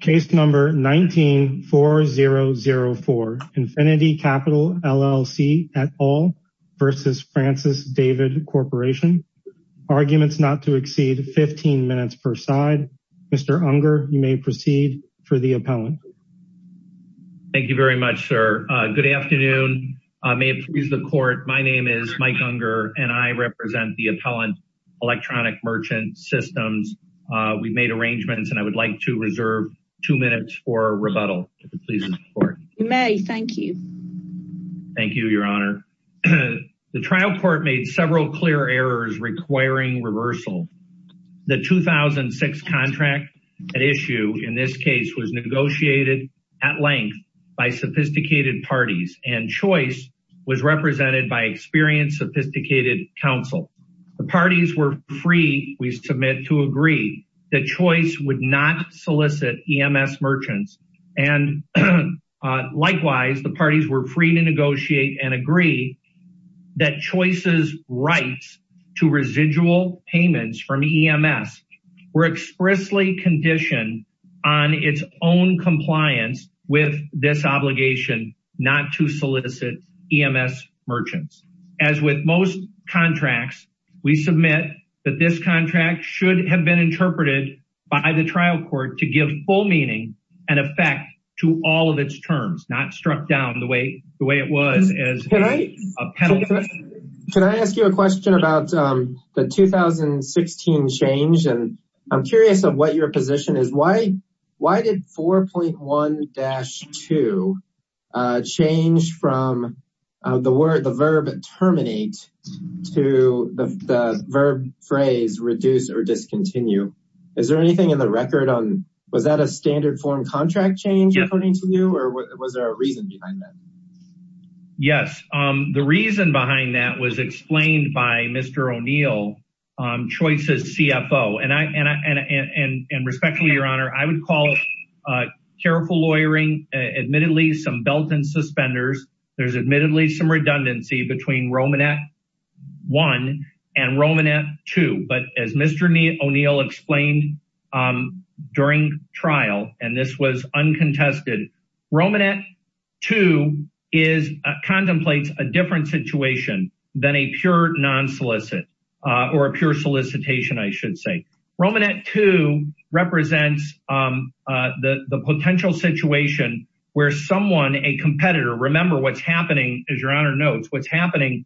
Case number 19-4004, Infinity Capital LLC et al. v. Francis David Corporation. Arguments not to exceed 15 minutes per side. Mr. Unger, you may proceed for the appellant. Thank you very much, sir. Good afternoon. May it please the court, my name is Mike Unger and I represent the appellant, Electronic Merchant Systems. We've made arrangements and I would like to reserve two minutes for rebuttal. You may, thank you. Thank you, your honor. The trial court made several clear errors requiring reversal. The 2006 contract at issue in this case was negotiated at length by sophisticated parties and choice was represented by experienced sophisticated counsel. The parties were free, we submit, to agree that choice would not solicit EMS merchants and likewise the parties were free to negotiate and agree that choice's rights to residual payments from EMS were expressly conditioned on its own compliance with this obligation not to solicit EMS merchants. As with most contracts, we submit that this to give full meaning and effect to all of its terms, not struck down the way it was. Can I ask you a question about the 2016 change and I'm curious of what your position is. Why did 4.1-2 change from the verb terminate to the verb phrase reduce or discontinue? Is there anything in the record on, was that a standard form contract change according to you or was there a reason behind that? Yes, the reason behind that was explained by Mr. O'Neill, choice's CFO and respectfully, your honor, I would call careful lawyering, admittedly, some belt and suspenders. There's admittedly some redundancy between Romanette 1 and Romanette 2, but as Mr. O'Neill explained during trial and this was uncontested, Romanette 2 contemplates a different situation than a pure solicitation. Romanette 2 represents the potential situation where someone, a competitor, remember what's happening, as your honor notes, what's happening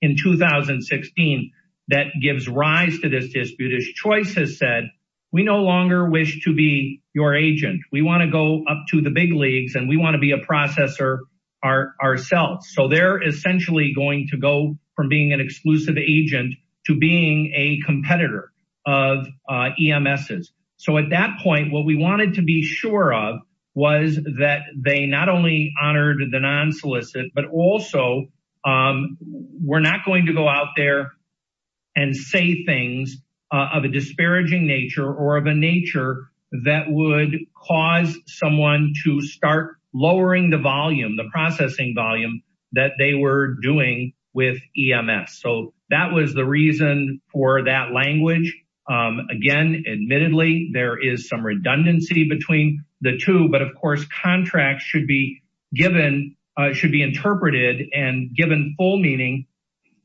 in 2016 that gives rise to this dispute. As choice has said, we no longer wish to be your agent. We want to go up to the big leagues and we want to be a processor ourselves. So, they're essentially going to go from being an exclusive agent to being a competitor of EMSs. So, at that point, what we wanted to be sure of was that they not only honored the non-solicit, but also, we're not going to go out there and say things of a disparaging nature or of a nature that would cause someone to start lowering the volume, the processing volume that they were doing with EMS. So, that was the reason for that language. Again, admittedly, there is some and given full meaning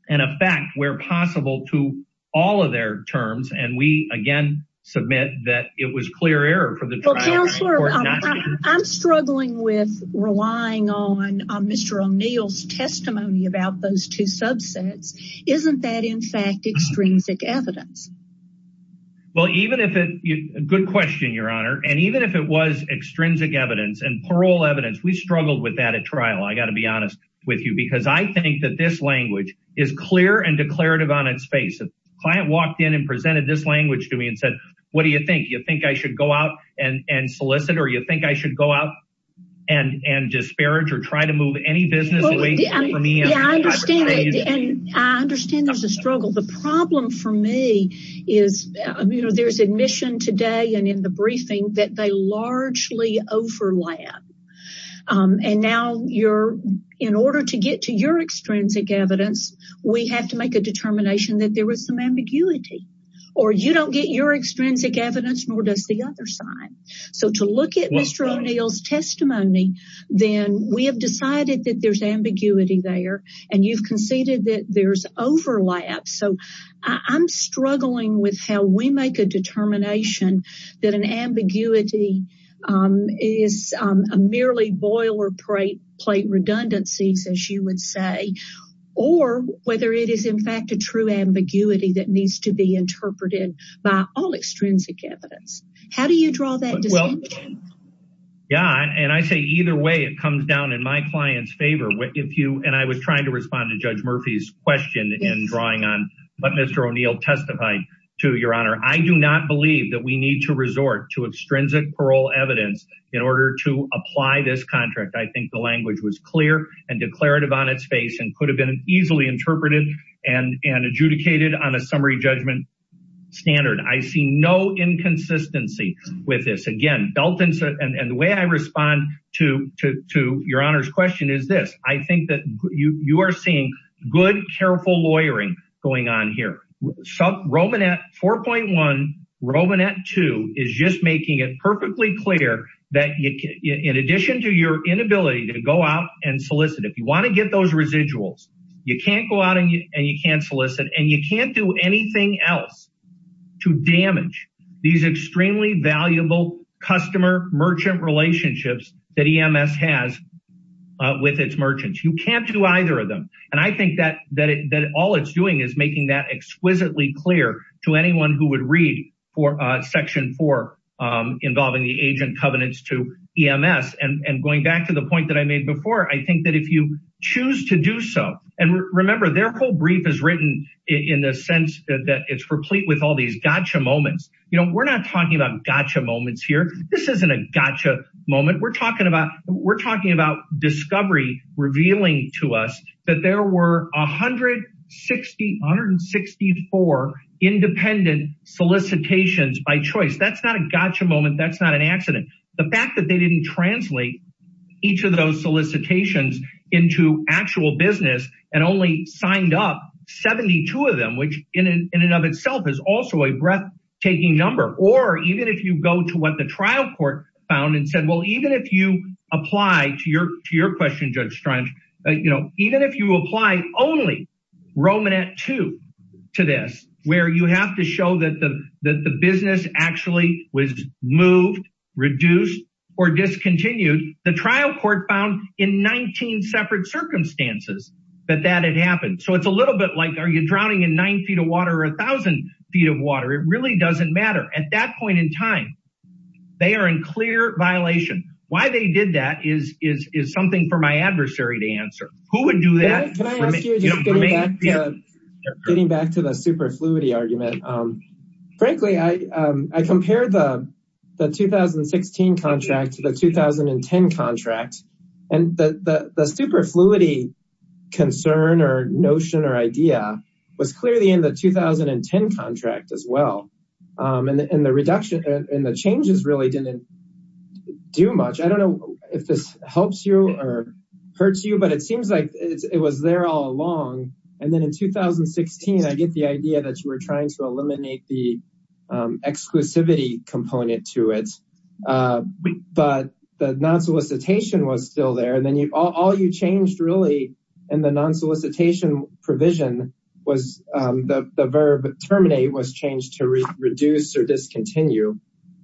and a fact where possible to all of their terms and we, again, submit that it was clear error for the trial. Well, counselor, I'm struggling with relying on Mr. O'Neill's testimony about those two subsets. Isn't that, in fact, extrinsic evidence? Well, even if it, good question, your honor, and even if it was extrinsic evidence and parole evidence, we struggled with that at trial. I got to be honest with you because I think that this language is clear and declarative on its face. A client walked in and presented this language to me and said, what do you think? You think I should go out and solicit or you think I should go out and disparage or try to move any business away from me? I understand there's a struggle. The problem for me is, you know, there's admission today and in the briefing that they largely overlap. And now you're, in order to get to your extrinsic evidence, we have to make a determination that there was some ambiguity or you don't get your extrinsic evidence nor does the other side. So to look at Mr. O'Neill's testimony, then we have decided that there's ambiguity there and you've conceded that there's overlap. So I'm struggling with how we make a determination whether that ambiguity is merely boilerplate redundancies, as you would say, or whether it is in fact a true ambiguity that needs to be interpreted by all extrinsic evidence. How do you draw that distinction? Yeah, and I say either way, it comes down in my client's favor. If you, and I was trying to respond to Judge Murphy's question in drawing on what Mr. O'Neill testified to, Your Honor, I do not believe that we need to resort to extrinsic parole evidence in order to apply this contract. I think the language was clear and declarative on its face and could have been easily interpreted and adjudicated on a summary judgment standard. I see no inconsistency with this. Again, and the way I respond to Your Honor's question is this. I think that you are seeing good, careful lawyering going on here. Romanet 4.1 and Romanet 2 is just making it perfectly clear that in addition to your inability to go out and solicit, if you want to get those residuals, you can't go out and you can't solicit and you can't do anything else to damage these extremely valuable customer-merchant relationships that EMS has with its merchants. You can't do either of them, and I think that all it's doing is making that exquisitely clear to anyone who would read Section 4 involving the agent covenants to EMS. Going back to the point that I made before, I think that if you choose to do so, and remember, their whole brief is written in the sense that it's complete with all these gotcha moments. We're not talking about gotcha moments here. This isn't a gotcha moment. We're talking about discovery revealing to us that there were 164 independent solicitations by choice. That's not a gotcha moment. That's not an accident. The fact that they didn't translate each of those solicitations into actual business and only signed up 72 of them, which in and of itself is also a breathtaking number. Or even if you go to what the trial court found and said, well, even if you apply only Romanet II to this, where you have to show that the business actually was moved, reduced, or discontinued, the trial court found in 19 separate circumstances that it happened. It's a little bit like, are you drowning in 9 feet of water or 1,000 feet of water? It really doesn't matter. At that point in time, they are in clear violation. Why they did that is something for my adversary to answer. Who would do that? Getting back to the superfluity argument, frankly, I compared the 2016 contract to the 2010 contract. The superfluity concern or notion or idea was clearly in the 2010 contract as well. The changes really didn't do much. I don't know if this helps you or hurts you, but it seems like it was there all along. And then in 2016, I get the idea that you were trying to eliminate the exclusivity component to it. But the non-solicitation was still there. And then all you changed really in the non-solicitation provision was the verb terminate was changed to reduce or discontinue.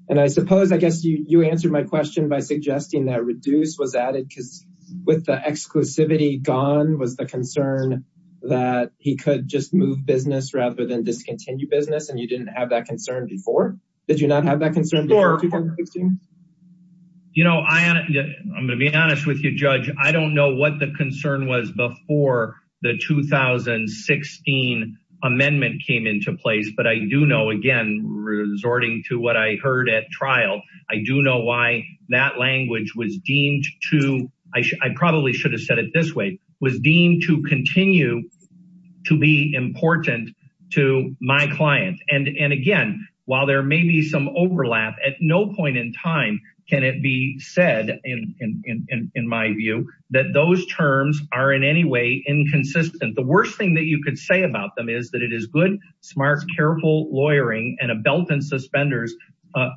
And I suppose, I guess, you answered my question by suggesting that reduce was added because with the exclusivity gone was the concern that he could just move business rather than discontinue business. And you didn't have that concern before? Did you not have that concern before 2016? You know, I'm going to be honest with you, Judge. I don't know what the concern was before the 2016 amendment came into place. But I do know, again, resorting to what I heard at trial, I do know why that language was deemed to, I probably should have said it this way, was deemed to continue to be important to my client. And again, while there may be some overlap, at no point in time can it be said, in my view, that those terms are in any way inconsistent. The worst thing that you could say about them is that it is good, smart, careful lawyering and a belt and suspenders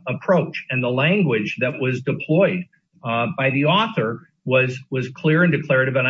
approach. And the language that was deployed by the author was clear and declarative and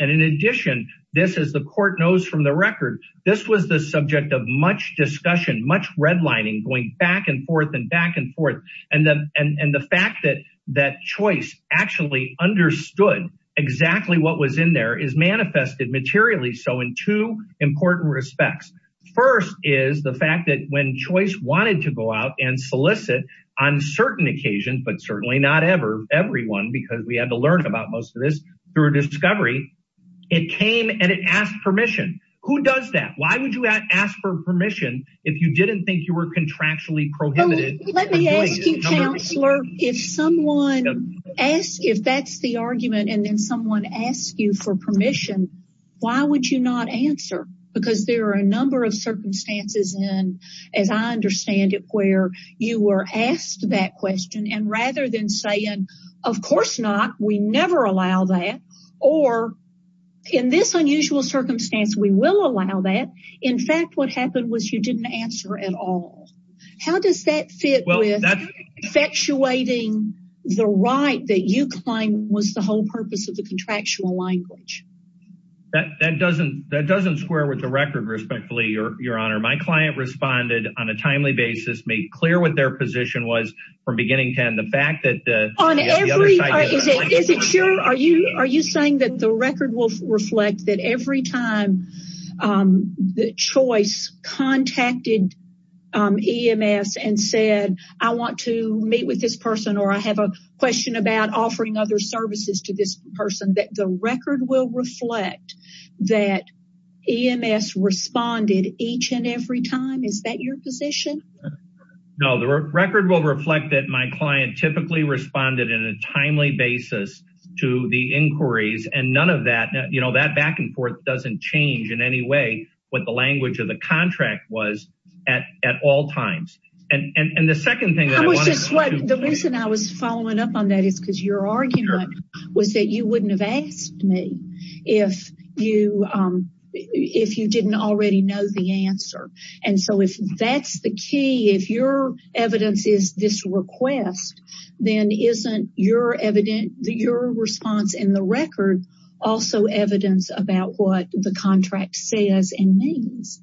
in addition, this is the court knows from the record, this was the subject of much discussion, much redlining going back and forth and back and forth. And the fact that that choice actually understood exactly what was in there is manifested materially. So in two important respects, first is the fact that when choice wanted to go out and solicit on certain occasions, but certainly not ever, everyone, because we had to learn about most of this through discovery, it came and it asked permission. Who does that? Why would you ask for permission if you didn't think you were contractually prohibited? Let me ask you, counselor, if someone asks, if that's the argument and then someone asks you for permission, why would you not answer? Because there are a number of circumstances and as I understand it, where you were asked that question and rather than saying, of course not, we never allow that or in this unusual circumstance, we will allow that. In fact, what happened was you didn't answer at all. How does that fit with effectuating the right that you claim was the whole purpose of the contractual language? That doesn't square with the record, respectfully, your honor. My client responded on a timely basis, made clear what their position was from beginning to end. The fact that Is it sure? Are you saying that the record will reflect that every time the choice contacted EMS and said, I want to meet with this person or I have a question about that EMS responded each and every time? Is that your position? No, the record will reflect that my client typically responded in a timely basis to the inquiries and none of that, you know, that back and forth doesn't change in any way what the language of the contract was at all times. And the second thing, I was just like, the reason I was following up on that is because your argument was that you wouldn't have asked me if you, if you didn't already know the answer. And so if that's the key, if your evidence is this request, then isn't your evidence that your response in the record also evidence about what the contract says and means?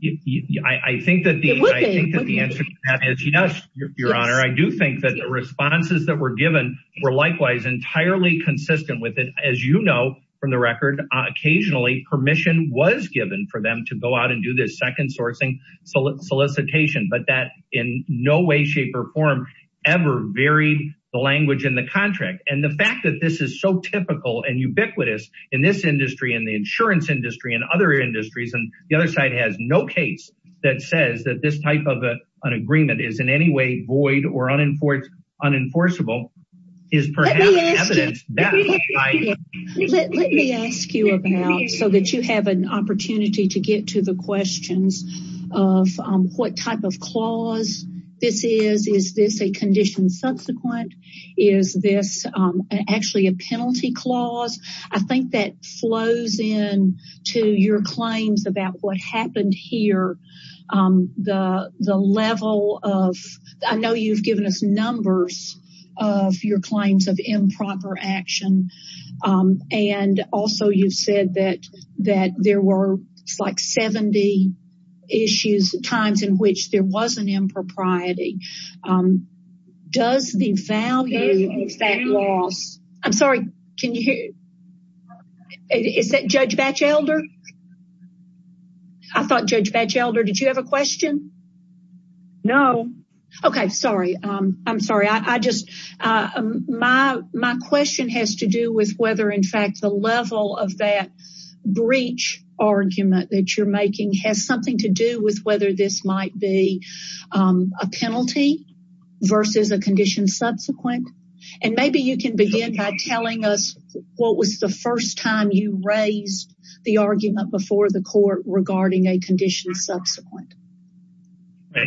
I think that the answer to that is yes, your honor. I do think the responses that were given were likewise entirely consistent with it. As you know, from the record, occasionally permission was given for them to go out and do this second sourcing solicitation, but that in no way, shape or form ever varied the language in the contract. And the fact that this is so typical and ubiquitous in this industry, in the insurance industry and other industries, and the other side has no case that says that this type of an agreement is in any way void or unenforced, unenforceable is perhaps evidence that. Let me ask you about, so that you have an opportunity to get to the questions of what type of clause this is. Is this a condition subsequent? Is this actually a penalty clause? I think that flows in to your claims about what happened here. The level of, I know you've given us numbers of your claims of improper action. And also you've said that there were like 70 issues, times in which there was an impropriety. Does the value of that loss, I'm sorry, can you hear? Is that Judge Batchelder? I thought Judge Batchelder, did you have a question? No. Okay. Sorry. I'm sorry. I just, my question has to do with whether in fact the level of that breach argument that you're making has something to do with whether this might be a penalty versus a condition subsequent. And maybe you can begin by telling us what was the first time you raised the argument before the court regarding a condition subsequent.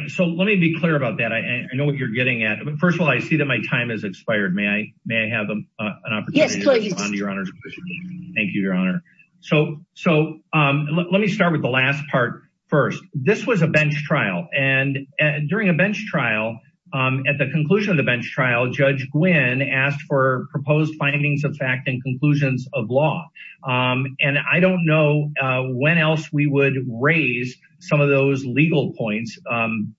So let me be clear about that. I know what you're getting at. First of all, I see that my time has expired. May I have an opportunity to respond to your honor? So let me start with the last part first. This was a bench trial and during a bench trial, at the conclusion of the bench trial, Judge Gwynne asked for proposed findings of fact and conclusions of law. And I don't know when else we would raise some of those legal points,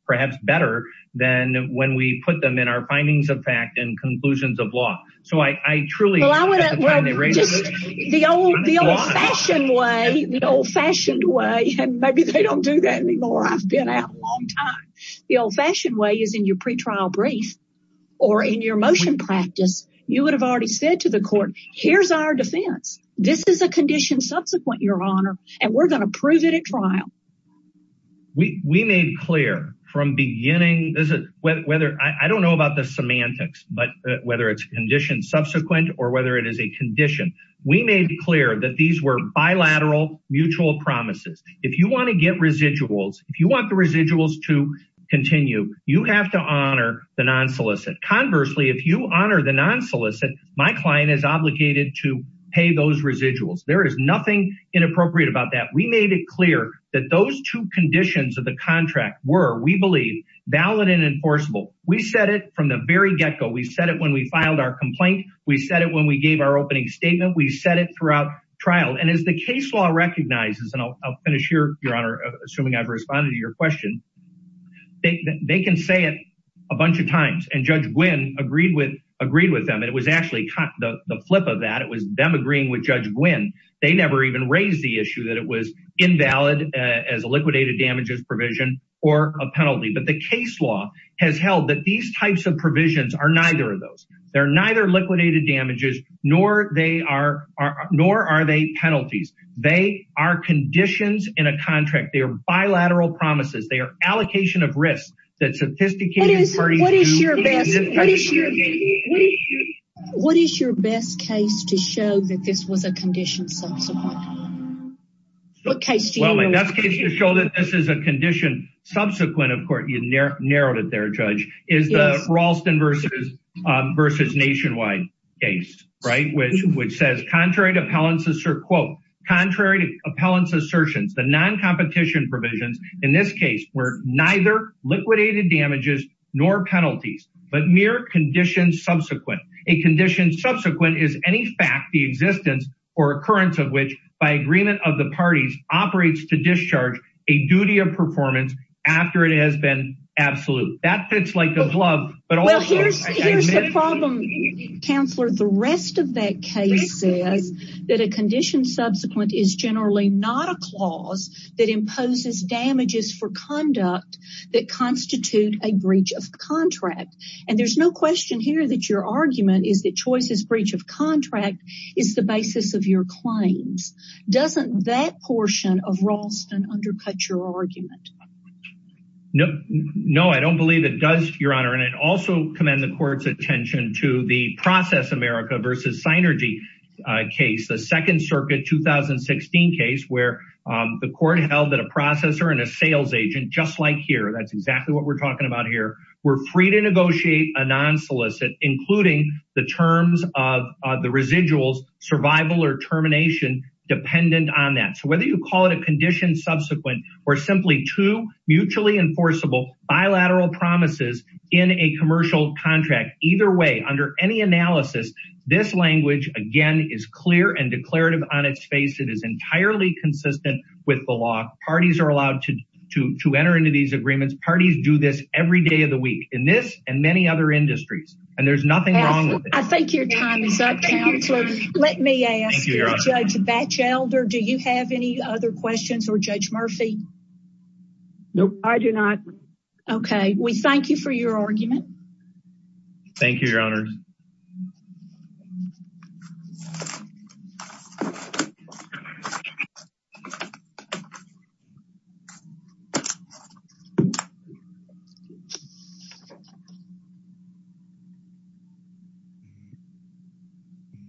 perhaps better than when we put them in our findings of fact and conclusions of law. So I truly, just the old, the old-fashioned way, the old-fashioned way, and maybe they don't do that anymore. I've been out a long time. The old-fashioned way is in your pre-trial brief or in your motion practice. You would have already said to the court, here's our defense. This is a condition subsequent, your honor, and we're going to prove it at trial. We made clear from beginning, this is whether, I don't know about the semantics, but whether it's condition subsequent or whether it is a condition. We made clear that these were bilateral mutual promises. If you want to get residuals, if you want the residuals to continue, you have to honor the non-solicit. Conversely, if you honor the non-solicit, my client is obligated to pay those residuals. There is nothing inappropriate about that. We made it clear that those two conditions of the contract were, we believe, valid and enforceable. We said it from the very get-go. We said it when we filed our complaint. We said it when we gave our opening statement. We said it throughout trial. As the case law recognizes, and I'll finish here, your honor, assuming I've responded to your question, they can say it a bunch of times. Judge Gwynne agreed with them. It was actually the flip of that. It was them agreeing with Judge Gwynne. They never even raised the issue that it was invalid as a liquidated damages provision or a penalty, but the case law has held that these types of provisions are neither of those. They're neither liquidated damages nor are they penalties. They are conditions in a contract. They are bilateral promises. They are allocation of risk. What is your best case to show that this is a condition subsequent? Well, my best case to show that this is a condition subsequent, of course, you narrowed it there, Judge, is the Ralston v. Nationwide case, which says, contrary to appellant's assertions, the non-competition provisions in this case were neither liquidated damages nor penalties, but mere conditions subsequent. A condition subsequent is any fact, the existence, or occurrence of which, by agreement of the parties, operates to discharge a duty of performance after it has been absolute. That fits like the glove. Well, here's the problem, counselor. The rest of that case says that a condition subsequent is generally not a clause that imposes damages for conduct that constitute a breach of contract, and there's no question here that your argument is that Choice's breach of contract is the basis of your claims. Doesn't that portion of Ralston undercut your argument? No, I don't believe it does, Your Honor, and I'd also commend the court's attention to the Process America v. Synergy case, the Second Circuit 2016 case, where the court held that a processor and a sales agent, just like here, that's exactly what we're talking about here, were free to negotiate a non-solicit, including the terms of the residuals, survival or termination, dependent on that. So, whether you call it a condition subsequent or simply two mutually enforceable bilateral promises in a commercial contract, either way, under any analysis, this language, again, is clear and declarative on its face. It is entirely consistent with the law. Parties are allowed to enter into these agreements. Parties do this every day of the week in this and many other industries, and there's nothing wrong with it. I think your time is up, Counselor. Let me ask Judge Batchelder, do you have any other questions for Judge Murphy? Nope, I do not. Okay, we thank you for your argument. Thank you, Your Honor.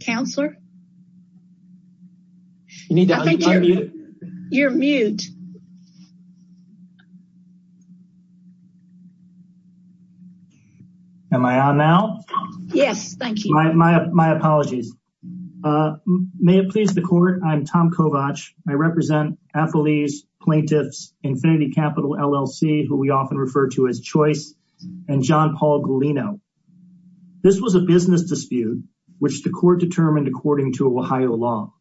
Counselor? You're mute. Am I on now? Yes, thank you. My apologies. May it please the court, I'm Tom Kovach. I represent affilies, plaintiffs, Infinity Capital LLC, who we often refer to as Choice, and John Paul Galino. This was a business dispute, which the court determined according to Ohio law.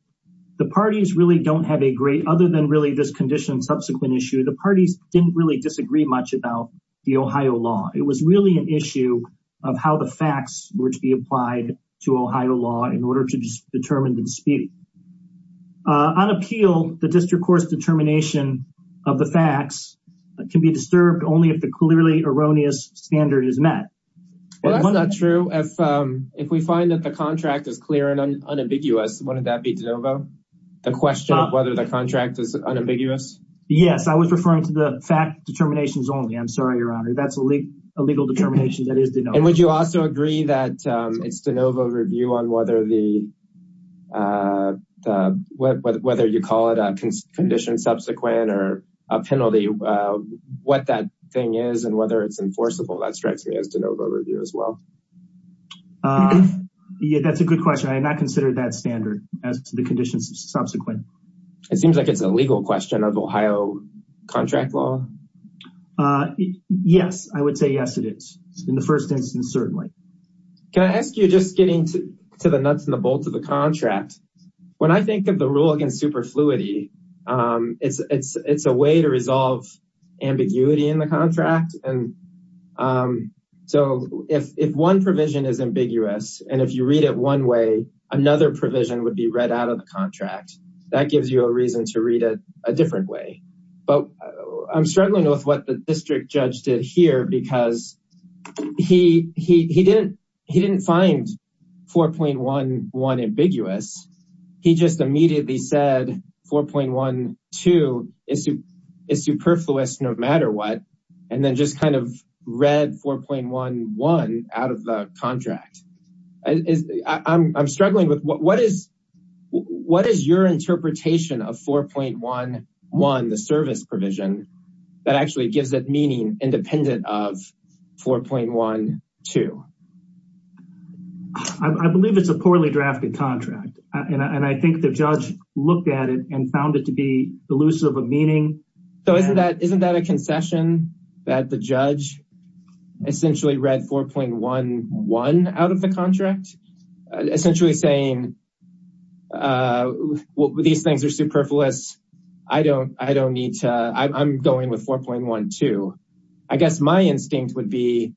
The parties really don't have a great, other than really this condition, subsequent issue, the parties didn't really disagree much about the Ohio law. It was really an issue of how the facts were to be applied to Ohio law in order to determine the dispute. On appeal, the district court's determination of the facts can be disturbed only if the clearly erroneous standard is met. Well, that's not true. If we find that the contract is clear and unambiguous, wouldn't that be de novo? The question of whether the contract is unambiguous? Yes, I was referring to the fact determinations only. I'm sorry, Your Honor. That's a legal determination that is de novo. Would you also agree that it's de novo review on whether the, whether you call it a condition subsequent or a penalty, what that thing is and whether it's enforceable? That strikes me as de novo review as well. Yeah, that's a good question. I have not asked the conditions of subsequent. It seems like it's a legal question of Ohio contract law. Yes, I would say yes, it is. In the first instance, certainly. Can I ask you just getting to the nuts and bolts of the contract? When I think of the rule against superfluity, it's a way to resolve ambiguity in the contract. And so if one provision is read out of the contract, that gives you a reason to read it a different way. But I'm struggling with what the district judge did here because he didn't find 4.11 ambiguous. He just immediately said 4.12 is superfluous no matter what, and then just kind of read 4.11 out of the contract. I'm struggling with what is your interpretation of 4.11, the service provision that actually gives it meaning independent of 4.12? I believe it's a poorly drafted contract. And I think the judge looked at it and found it to be 4.11 out of the contract. Essentially saying, these things are superfluous. I'm going with 4.12. I guess my instinct would be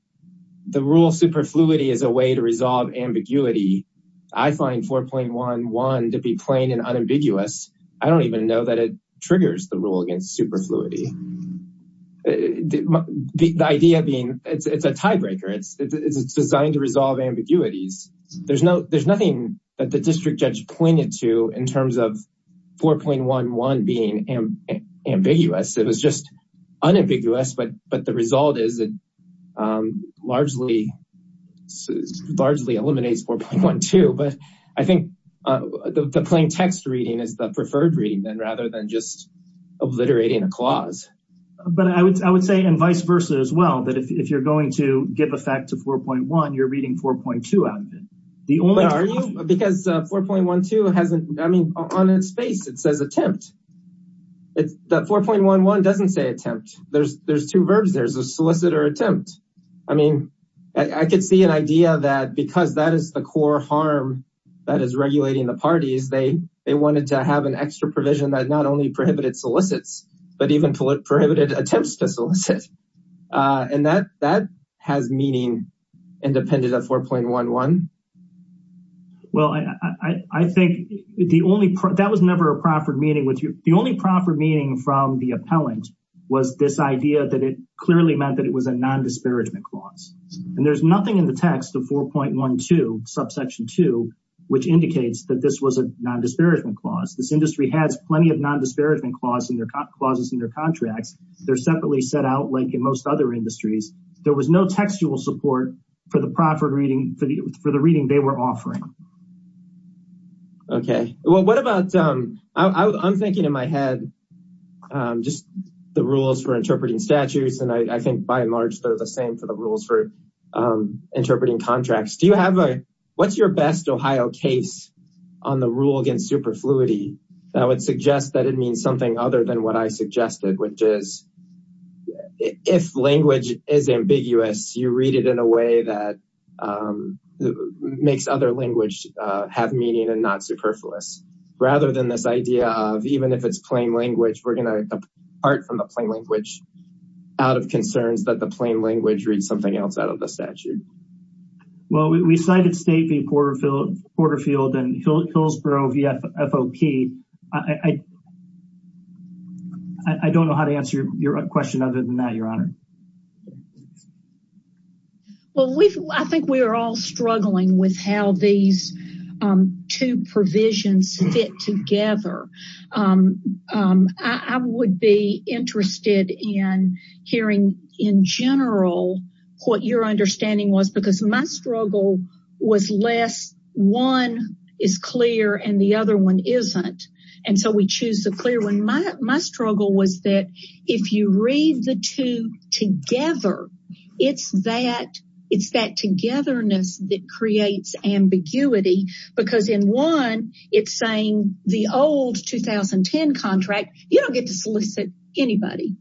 the rule superfluity is a way to resolve ambiguity. I find 4.11 to be plain and unambiguous. I don't even know that it triggers the rule against superfluity. The idea being it's a tiebreaker. It's designed to resolve ambiguities. There's nothing that the district judge pointed to in terms of 4.11 being ambiguous. It was just unambiguous, but the result is it largely eliminates 4.12. But I think the plain text reading is the preferred reading then rather than just obliterating a clause. But I would say, and vice versa as well, that if you're going to give effect to 4.1, you're reading 4.2 out of it. Because 4.12, on its face, it says attempt. That 4.11 doesn't say attempt. There's two verbs. There's a solicitor attempt. I could see an idea that because that is the core harm that is regulating the parties, they wanted to have an extra provision that not only prohibited solicits, but even prohibited attempts to solicit. And that has meaning independent of 4.11. Well, I think that was never a proffered meaning. The only proffered meaning from the appellant was this idea that it clearly meant that it was a non-disparagement clause. And there's nothing in the text of 4.12, subsection 2, which indicates that this was a non-disparagement clause. This industry has plenty of non-disparagement clauses in their contracts. They're separately set out like in most other industries. There was no textual support for the reading they were offering. Okay. Well, I'm thinking in my head just the rules for interpreting statutes. And I think by and large, they're the same for the rules for interpreting contracts. What's your best Ohio case on the rule against superfluity that would suggest that it means something other than what I suggested, which is if language is ambiguous, you read it in a way that makes other language have meaning and not we're going to part from the plain language out of concerns that the plain language reads something else out of the statute. Well, we cited State v. Porterfield and Hillsborough v. FOP. I don't know how to answer your question other than that, Your Honor. Well, I think we are all struggling with how these two provisions fit together. I would be interested in hearing in general what your understanding was because my struggle was less one is clear and the other one isn't. And so we choose the clear one. My struggle was that if you read the two together, it's that togetherness that creates ambiguity. Because in one, it's saying the old 2010 contract, you don't get to solicit anybody.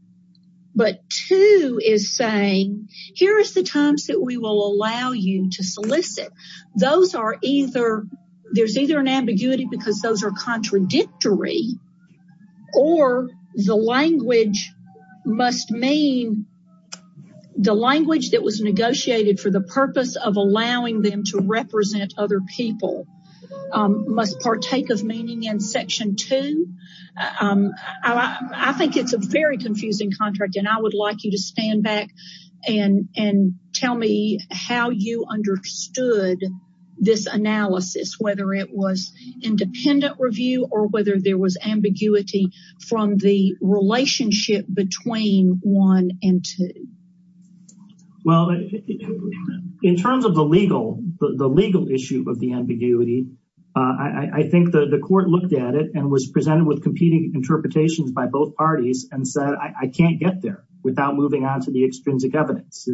But two is saying, here's the times that we will allow you to solicit. There's either an ambiguity because those are contradictory or the language must mean the language that was negotiated for the purpose of allowing them to represent other people must partake of meaning in section two. I think it's a very confusing contract and I would like you to stand back and tell me how you understood this analysis, whether it was independent review or whether there was ambiguity from the relationship between one and two. Well, in terms of the legal issue of the ambiguity, I think the court looked at it and was presented with competing interpretations by both parties and said, I can't get there without moving on to the extrinsic evidence.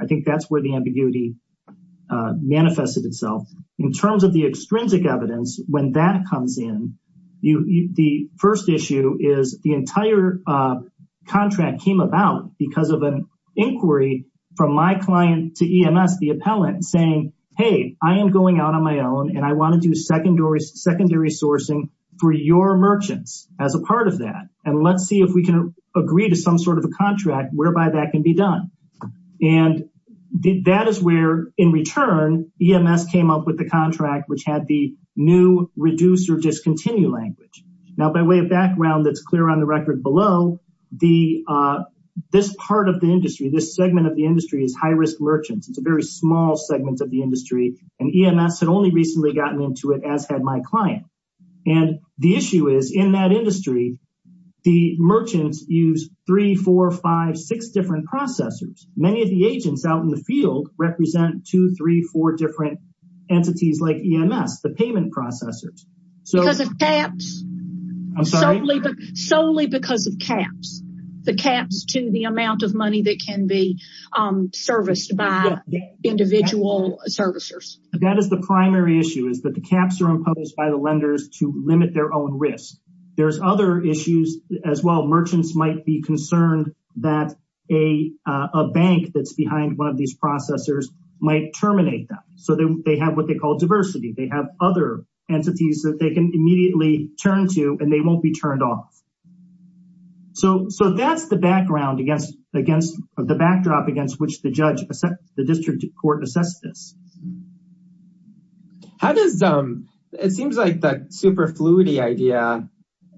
I think that's where the entire contract came about because of an inquiry from my client to EMS, the appellant saying, hey, I am going out on my own and I want to do secondary sourcing for your merchants as a part of that. And let's see if we can agree to some sort of a contract whereby that can be done. And that is where in return, EMS came up with the contract which had the new reduce or discontinue language. Now, by way of background that's clear on the record below, this part of the industry, this segment of the industry is high risk merchants. It's a very small segment of the industry and EMS had only recently gotten into it as had my client. And the issue is in that industry, the merchants use three, four, five, six different processors. Many of the agents out in the field represent two, three, four different entities like EMS, the payment processors. Because of caps? I'm sorry? Solely because of caps, the caps to the amount of money that can be serviced by individual servicers. That is the primary issue is that the caps are imposed by the lenders to limit their own risk. There's other issues as well. Merchants might be concerned that a bank that's behind one of these processors might terminate them. So they have what they call immediately turn to and they won't be turned off. So that's the background against the backdrop against which the judge, the district court assessed this. It seems like that super fluid idea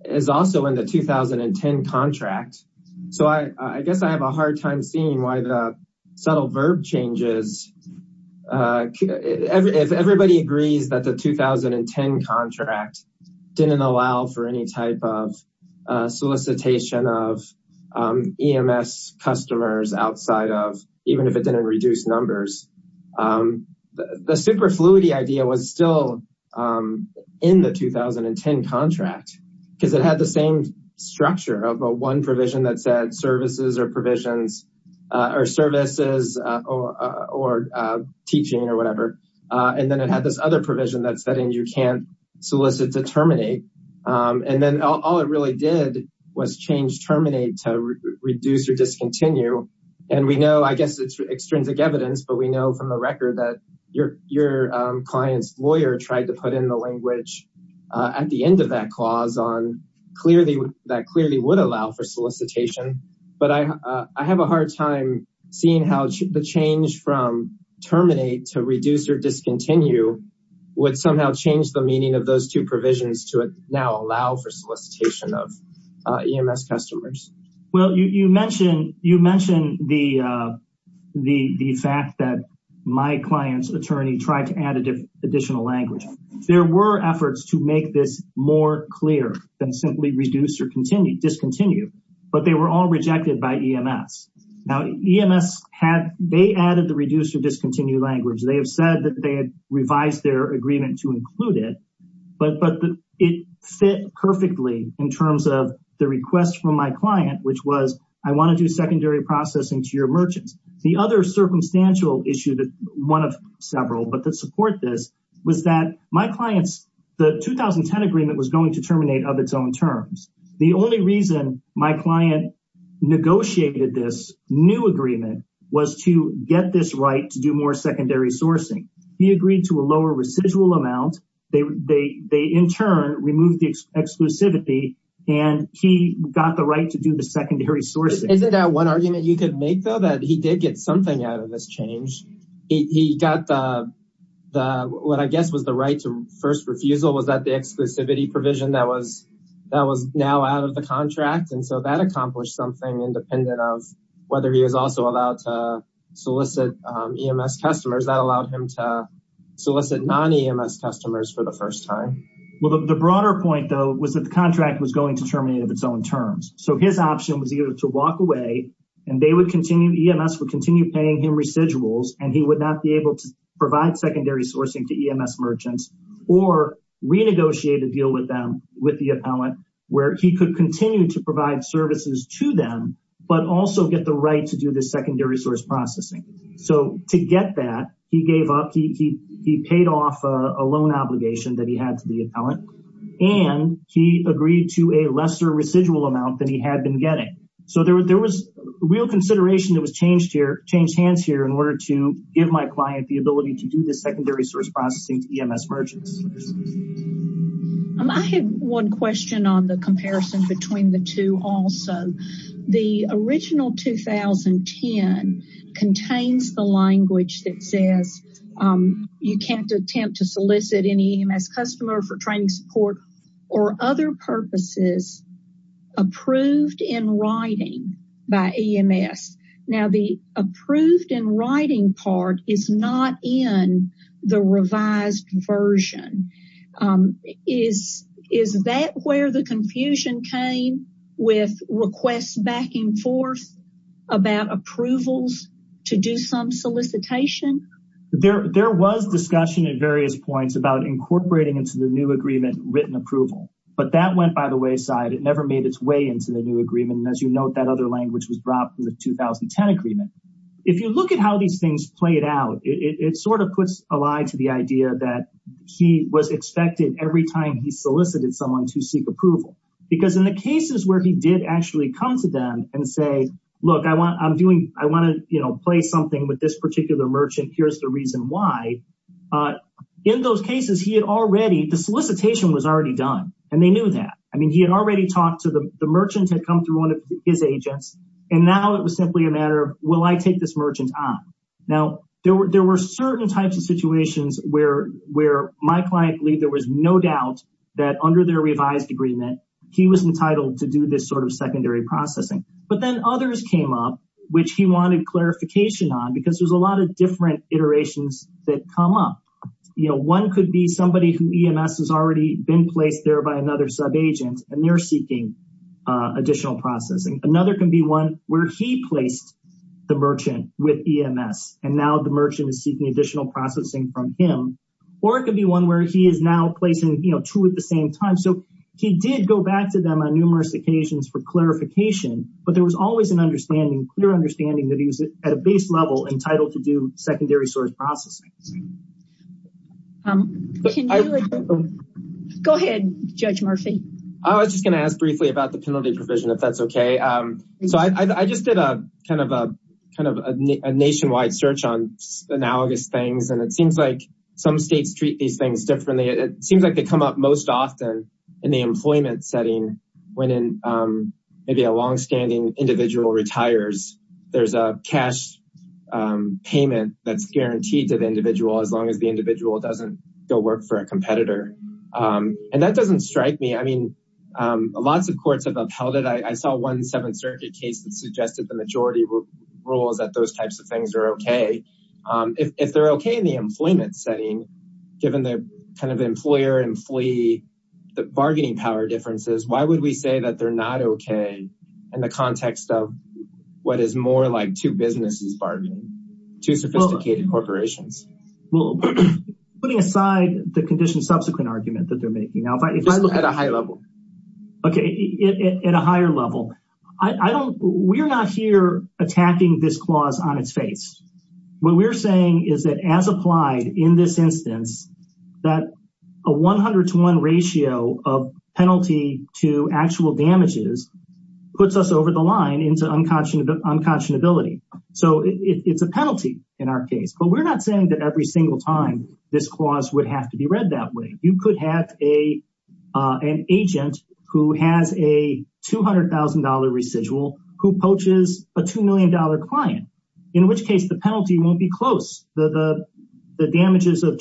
is also in the 2010 contract. So I guess I have a hard time seeing why the subtle verb changes. If everybody agrees that the 2010 contract didn't allow for any type of solicitation of EMS customers outside of, even if it didn't reduce numbers, the super fluid idea was still in the 2010 contract because it had the same structure of one provision that said services or teaching or whatever. And then it had this other provision that said you can't solicit to terminate. And then all it really did was change terminate to reduce or discontinue. And we know, I guess it's extrinsic evidence, but we know from the record that your client's lawyer tried to put in the language at the end of that clause on that clearly would allow for solicitation. But I have a hard time seeing how the change from terminate to reduce or discontinue would somehow change the meaning of those two provisions to now allow for solicitation of EMS customers. Well, you mentioned the fact that my client's attorney tried to add additional language. There were efforts to make this more clear than simply reduce or discontinue, but they were all rejected by EMS. Now EMS, they added the reduce or discontinue language. They have said that they had revised their agreement to include it, but it fit perfectly in terms of the request from my client, which was, I want to do secondary processing to your merchants. The other circumstantial issue, one of several, but support this was that my client's, the 2010 agreement was going to terminate of its own terms. The only reason my client negotiated this new agreement was to get this right to do more secondary sourcing. He agreed to a lower residual amount. They, in turn, removed the exclusivity and he got the right to do the secondary sourcing. Isn't that one argument you could make though, he did get something out of this change. He got the, what I guess was the right to first refusal. Was that the exclusivity provision that was now out of the contract? And so that accomplished something independent of whether he was also allowed to solicit EMS customers that allowed him to solicit non-EMS customers for the first time. Well, the broader point though, was that the contract was going to terminate of its own terms. So his option was either to walk away and they EMS would continue paying him residuals and he would not be able to provide secondary sourcing to EMS merchants or renegotiate a deal with them, with the appellant, where he could continue to provide services to them, but also get the right to do this secondary source processing. So to get that he gave up, he paid off a loan obligation that he had to the appellant and he agreed to a lesser residual amount than he had been getting. So there was real consideration that was changed here, changed hands here in order to give my client the ability to do this secondary source processing to EMS merchants. I have one question on the comparison between the two also. The original 2010 contains the language that says you can't attempt to solicit any EMS customer for training support or other purposes approved in writing by EMS. Now the approved in writing part is not in the revised version. Is that where the confusion came with requests back and forth about approvals to do some solicitation? There was discussion at various points about incorporating into the new written approval, but that went by the wayside. It never made its way into the new agreement. And as you note, that other language was brought from the 2010 agreement. If you look at how these things played out, it sort of puts a lie to the idea that he was expected every time he solicited someone to seek approval, because in the cases where he did actually come to them and say, look, I want to play something with this particular merchant. Here's the reason why. In those cases, the solicitation was already done, and they knew that. I mean, he had already talked to the merchant who had come through one of his agents, and now it was simply a matter of, will I take this merchant on? Now, there were certain types of situations where my client believed there was no doubt that under their revised agreement, he was entitled to do this sort of secondary processing. But then others came up, which he wanted clarification on, because there's a lot of different iterations that come up. One could be somebody who EMS has already been placed there by another subagent, and they're seeking additional processing. Another can be one where he placed the merchant with EMS, and now the merchant is seeking additional processing from him. Or it could be one where he is now placing two at the same time. So he did go back to them on numerous occasions for clarification, but there was always a clear understanding that he was at a base level entitled to do secondary source processing. Go ahead, Judge Murphy. I was just going to ask briefly about the penalty provision, if that's okay. So I just did a nationwide search on analogous things, and it seems like some states treat these things differently. It seems like they come up most often in the employment setting, when maybe a longstanding individual retires, there's a cash payment that's guaranteed to the individual as long as the individual doesn't go work for a competitor. And that doesn't strike me. I mean, lots of courts have upheld it. I saw one Seventh Circuit case that suggested the majority rules that those types of things are okay. If they're okay in the employment setting, given the kind of employer-employee bargaining power differences, why would we say that they're not okay in the context of what is more like two businesses bargaining, two sophisticated corporations? Well, putting aside the subsequent argument that they're making, if I look at a high level, okay, at a higher level, we're not here attacking this clause on its face. What we're saying is that as applied in this instance, that a 100 to 1 ratio of penalty to actual damages puts us over the line into unconscionability. So it's a penalty in our case, but we're not saying that every single time this clause would have to be read that way. You could have an agent who has a $200,000 residual who poaches a $2 million client, in which case the penalty won't be close. The damages of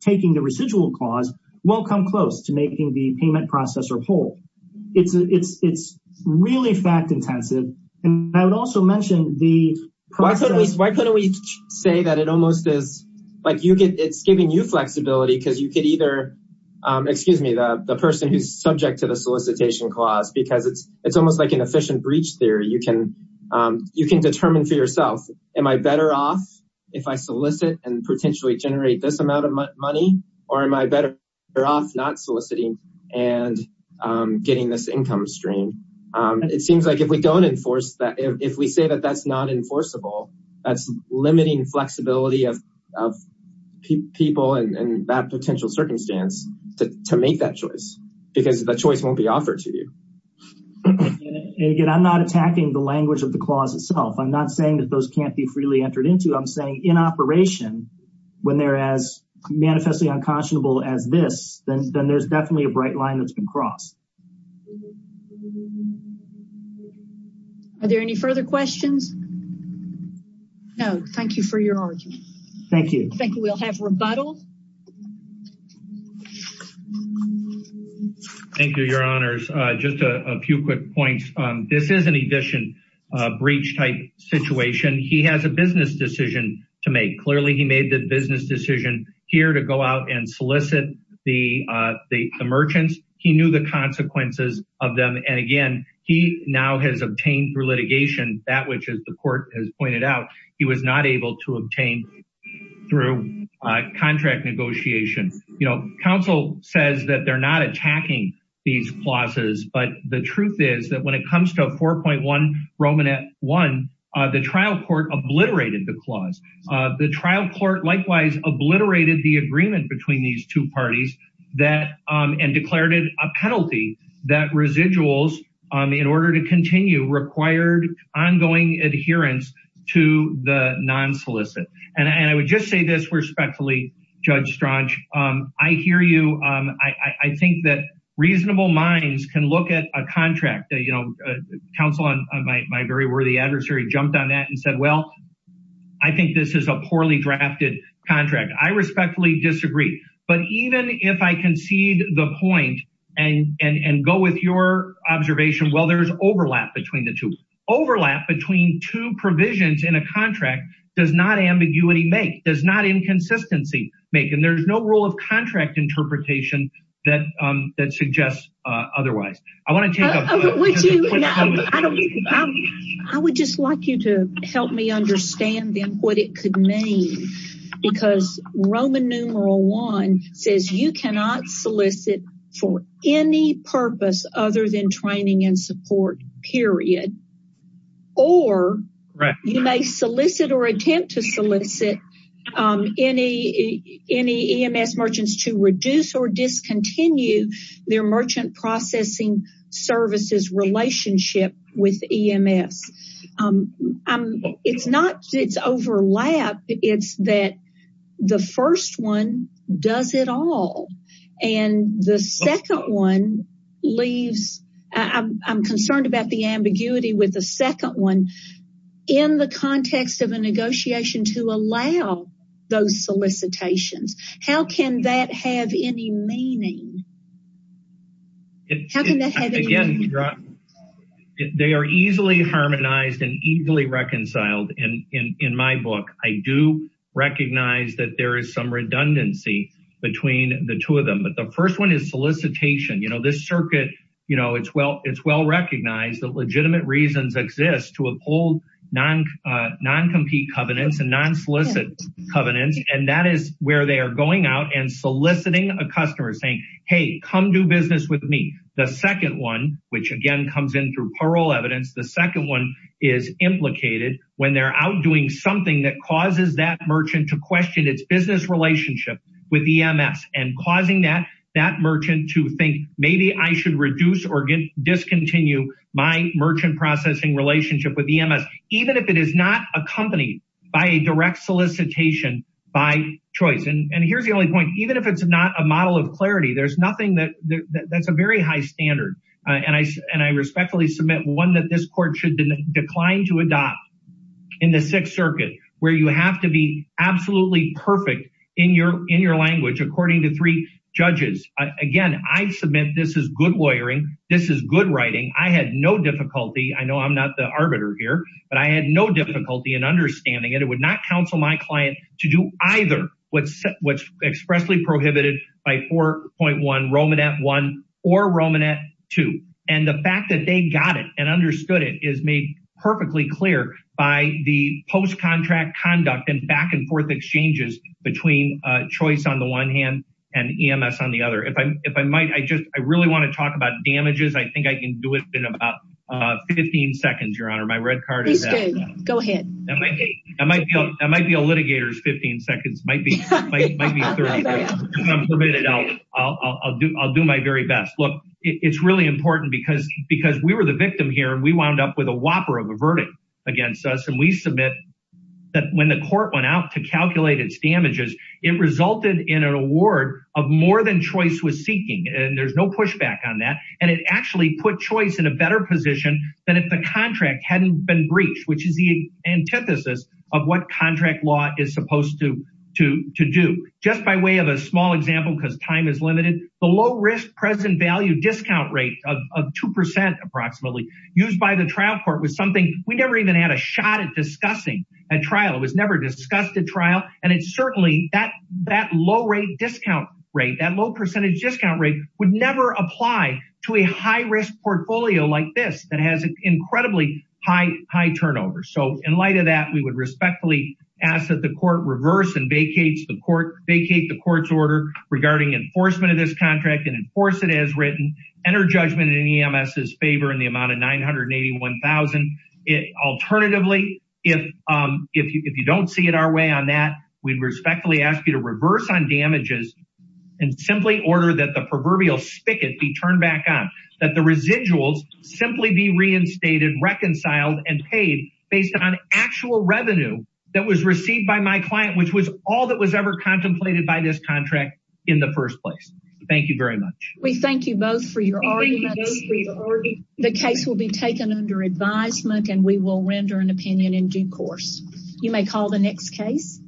taking the residual clause won't come close to making the payment processer whole. It's really fact-intensive. And I would also mention the process- Why couldn't we say that it almost is, like, it's giving you flexibility because you could either, excuse me, the person who's subject to the solicitation clause, because it's almost like efficient breach theory, you can determine for yourself, am I better off if I solicit and potentially generate this amount of money, or am I better off not soliciting and getting this income stream? It seems like if we don't enforce that, if we say that that's not enforceable, that's limiting flexibility of people in that potential circumstance to make that choice, because the I'm not attacking the language of the clause itself. I'm not saying that those can't be freely entered into. I'm saying in operation, when they're as manifestly unconscionable as this, then there's definitely a bright line that's been crossed. Are there any further questions? No. Thank you for your argument. Thank you. I think we'll have rebuttal. Thank you, Your Honors. Just a few quick points. This is an efficient breach type situation. He has a business decision to make. Clearly, he made the business decision here to go out and solicit the merchants. He knew the consequences of them. And again, he now has obtained through litigation that which, as the court has pointed out, he was not able to obtain through contract negotiation. Counsel says that they're not attacking these clauses, but the truth is that when it comes to 4.1 Romanette 1, the trial court obliterated the clause. The trial court likewise obliterated the agreement between these two parties and declared it a penalty that residuals, in order to continue, required ongoing adherence to the non-solicit. And I would just say this respectfully, Judge Strach, I hear you. I think that reasonable minds can look at a contract. Counsel, my very worthy adversary, jumped on that and said, well, I think this is a poorly drafted contract. I respectfully disagree. But even if I concede the point and go with your observation, well, there's overlap between the two. Overlap between two provisions in a contract does not ambiguity make, does not inconsistency make. And there's no rule of contract interpretation that suggests otherwise. I would just like you to help me understand then what it could mean. Because Roman numeral one says you cannot solicit for any purpose other than training and support, period. Or you may solicit or attempt to solicit any EMS merchants to reduce or discontinue their merchant processing services relationship with EMS. It's not, it's overlap. It's that the first one does it all. And the second one leaves, I'm concerned about the ambiguity with the second one. In the context of a negotiation to allow those solicitations, how can that have any meaning? They are easily harmonized and easily reconciled in my book. I do recognize that there is some redundancy between the two of them. But the first one is solicitation. You know, this circuit, you know, it's well recognized that legitimate reasons exist to uphold non-compete covenants and non-solicit covenants. And that is where they are going out and soliciting a customer saying, hey, come do business with me. The second one, which again comes in through parole evidence, the second one is implicated when they're out doing something that causes that merchant to question its business relationship with EMS and causing that merchant to think maybe I should reduce or discontinue my merchant processing relationship with EMS, even if it is not accompanied by a direct solicitation by choice. And here's the only point, even if it's not a model of clarity, there's nothing that's a very high standard. And I respectfully submit one that this court should decline to adopt in the Sixth Circuit, where you have to be absolutely perfect in your language according to three judges. Again, I submit this is good lawyering, this is good writing. I had no difficulty, I know I'm not the arbiter here, but I had no difficulty in understanding it. It would not counsel my client to do either what's expressly prohibited by 4.1 Romanet I or Romanet II. And the fact that they got it and understood it is made perfectly clear by the post-contract conduct and back-and-forth exchanges between choice on the one hand and EMS on the other. If I might, I really want to talk about damages. I think I can do it in about 15 seconds, Your Honor. My red card is that. That might be a litigator's 15 seconds. I'll do my very best. Look, it's really important because we were the victim here and we wound up with a whopper of a verdict against us. And we submit that when the court went out to calculate its damages, it resulted in an award of more than choice was seeking. And there's no pushback on that. And it actually put choice in a better position than if the contract hadn't been breached, which is the antithesis of what contract law is supposed to do. Just by way of a small example, because time is limited, the low risk present value discount rate of 2% approximately used by the trial court was something we never even had a shot at discussing at trial. It was never discussed at trial. And certainly, that low rate discount rate, that low percentage discount rate would apply to a high risk portfolio like this that has incredibly high turnovers. So in light of that, we would respectfully ask that the court reverse and vacate the court's order regarding enforcement of this contract and enforce it as written, enter judgment in EMS's favor in the amount of $981,000. Alternatively, if you don't see it our way on that, we respectfully ask you to reverse on damages and simply order that the proverbial spigot be turned back on, that the residuals simply be reinstated, reconciled, and paid based on actual revenue that was received by my client, which was all that was ever contemplated by this contract in the first place. Thank you very much. We thank you both for your arguments. The case will be taken under advisement, and we will render an opinion in due course. You may call the next case.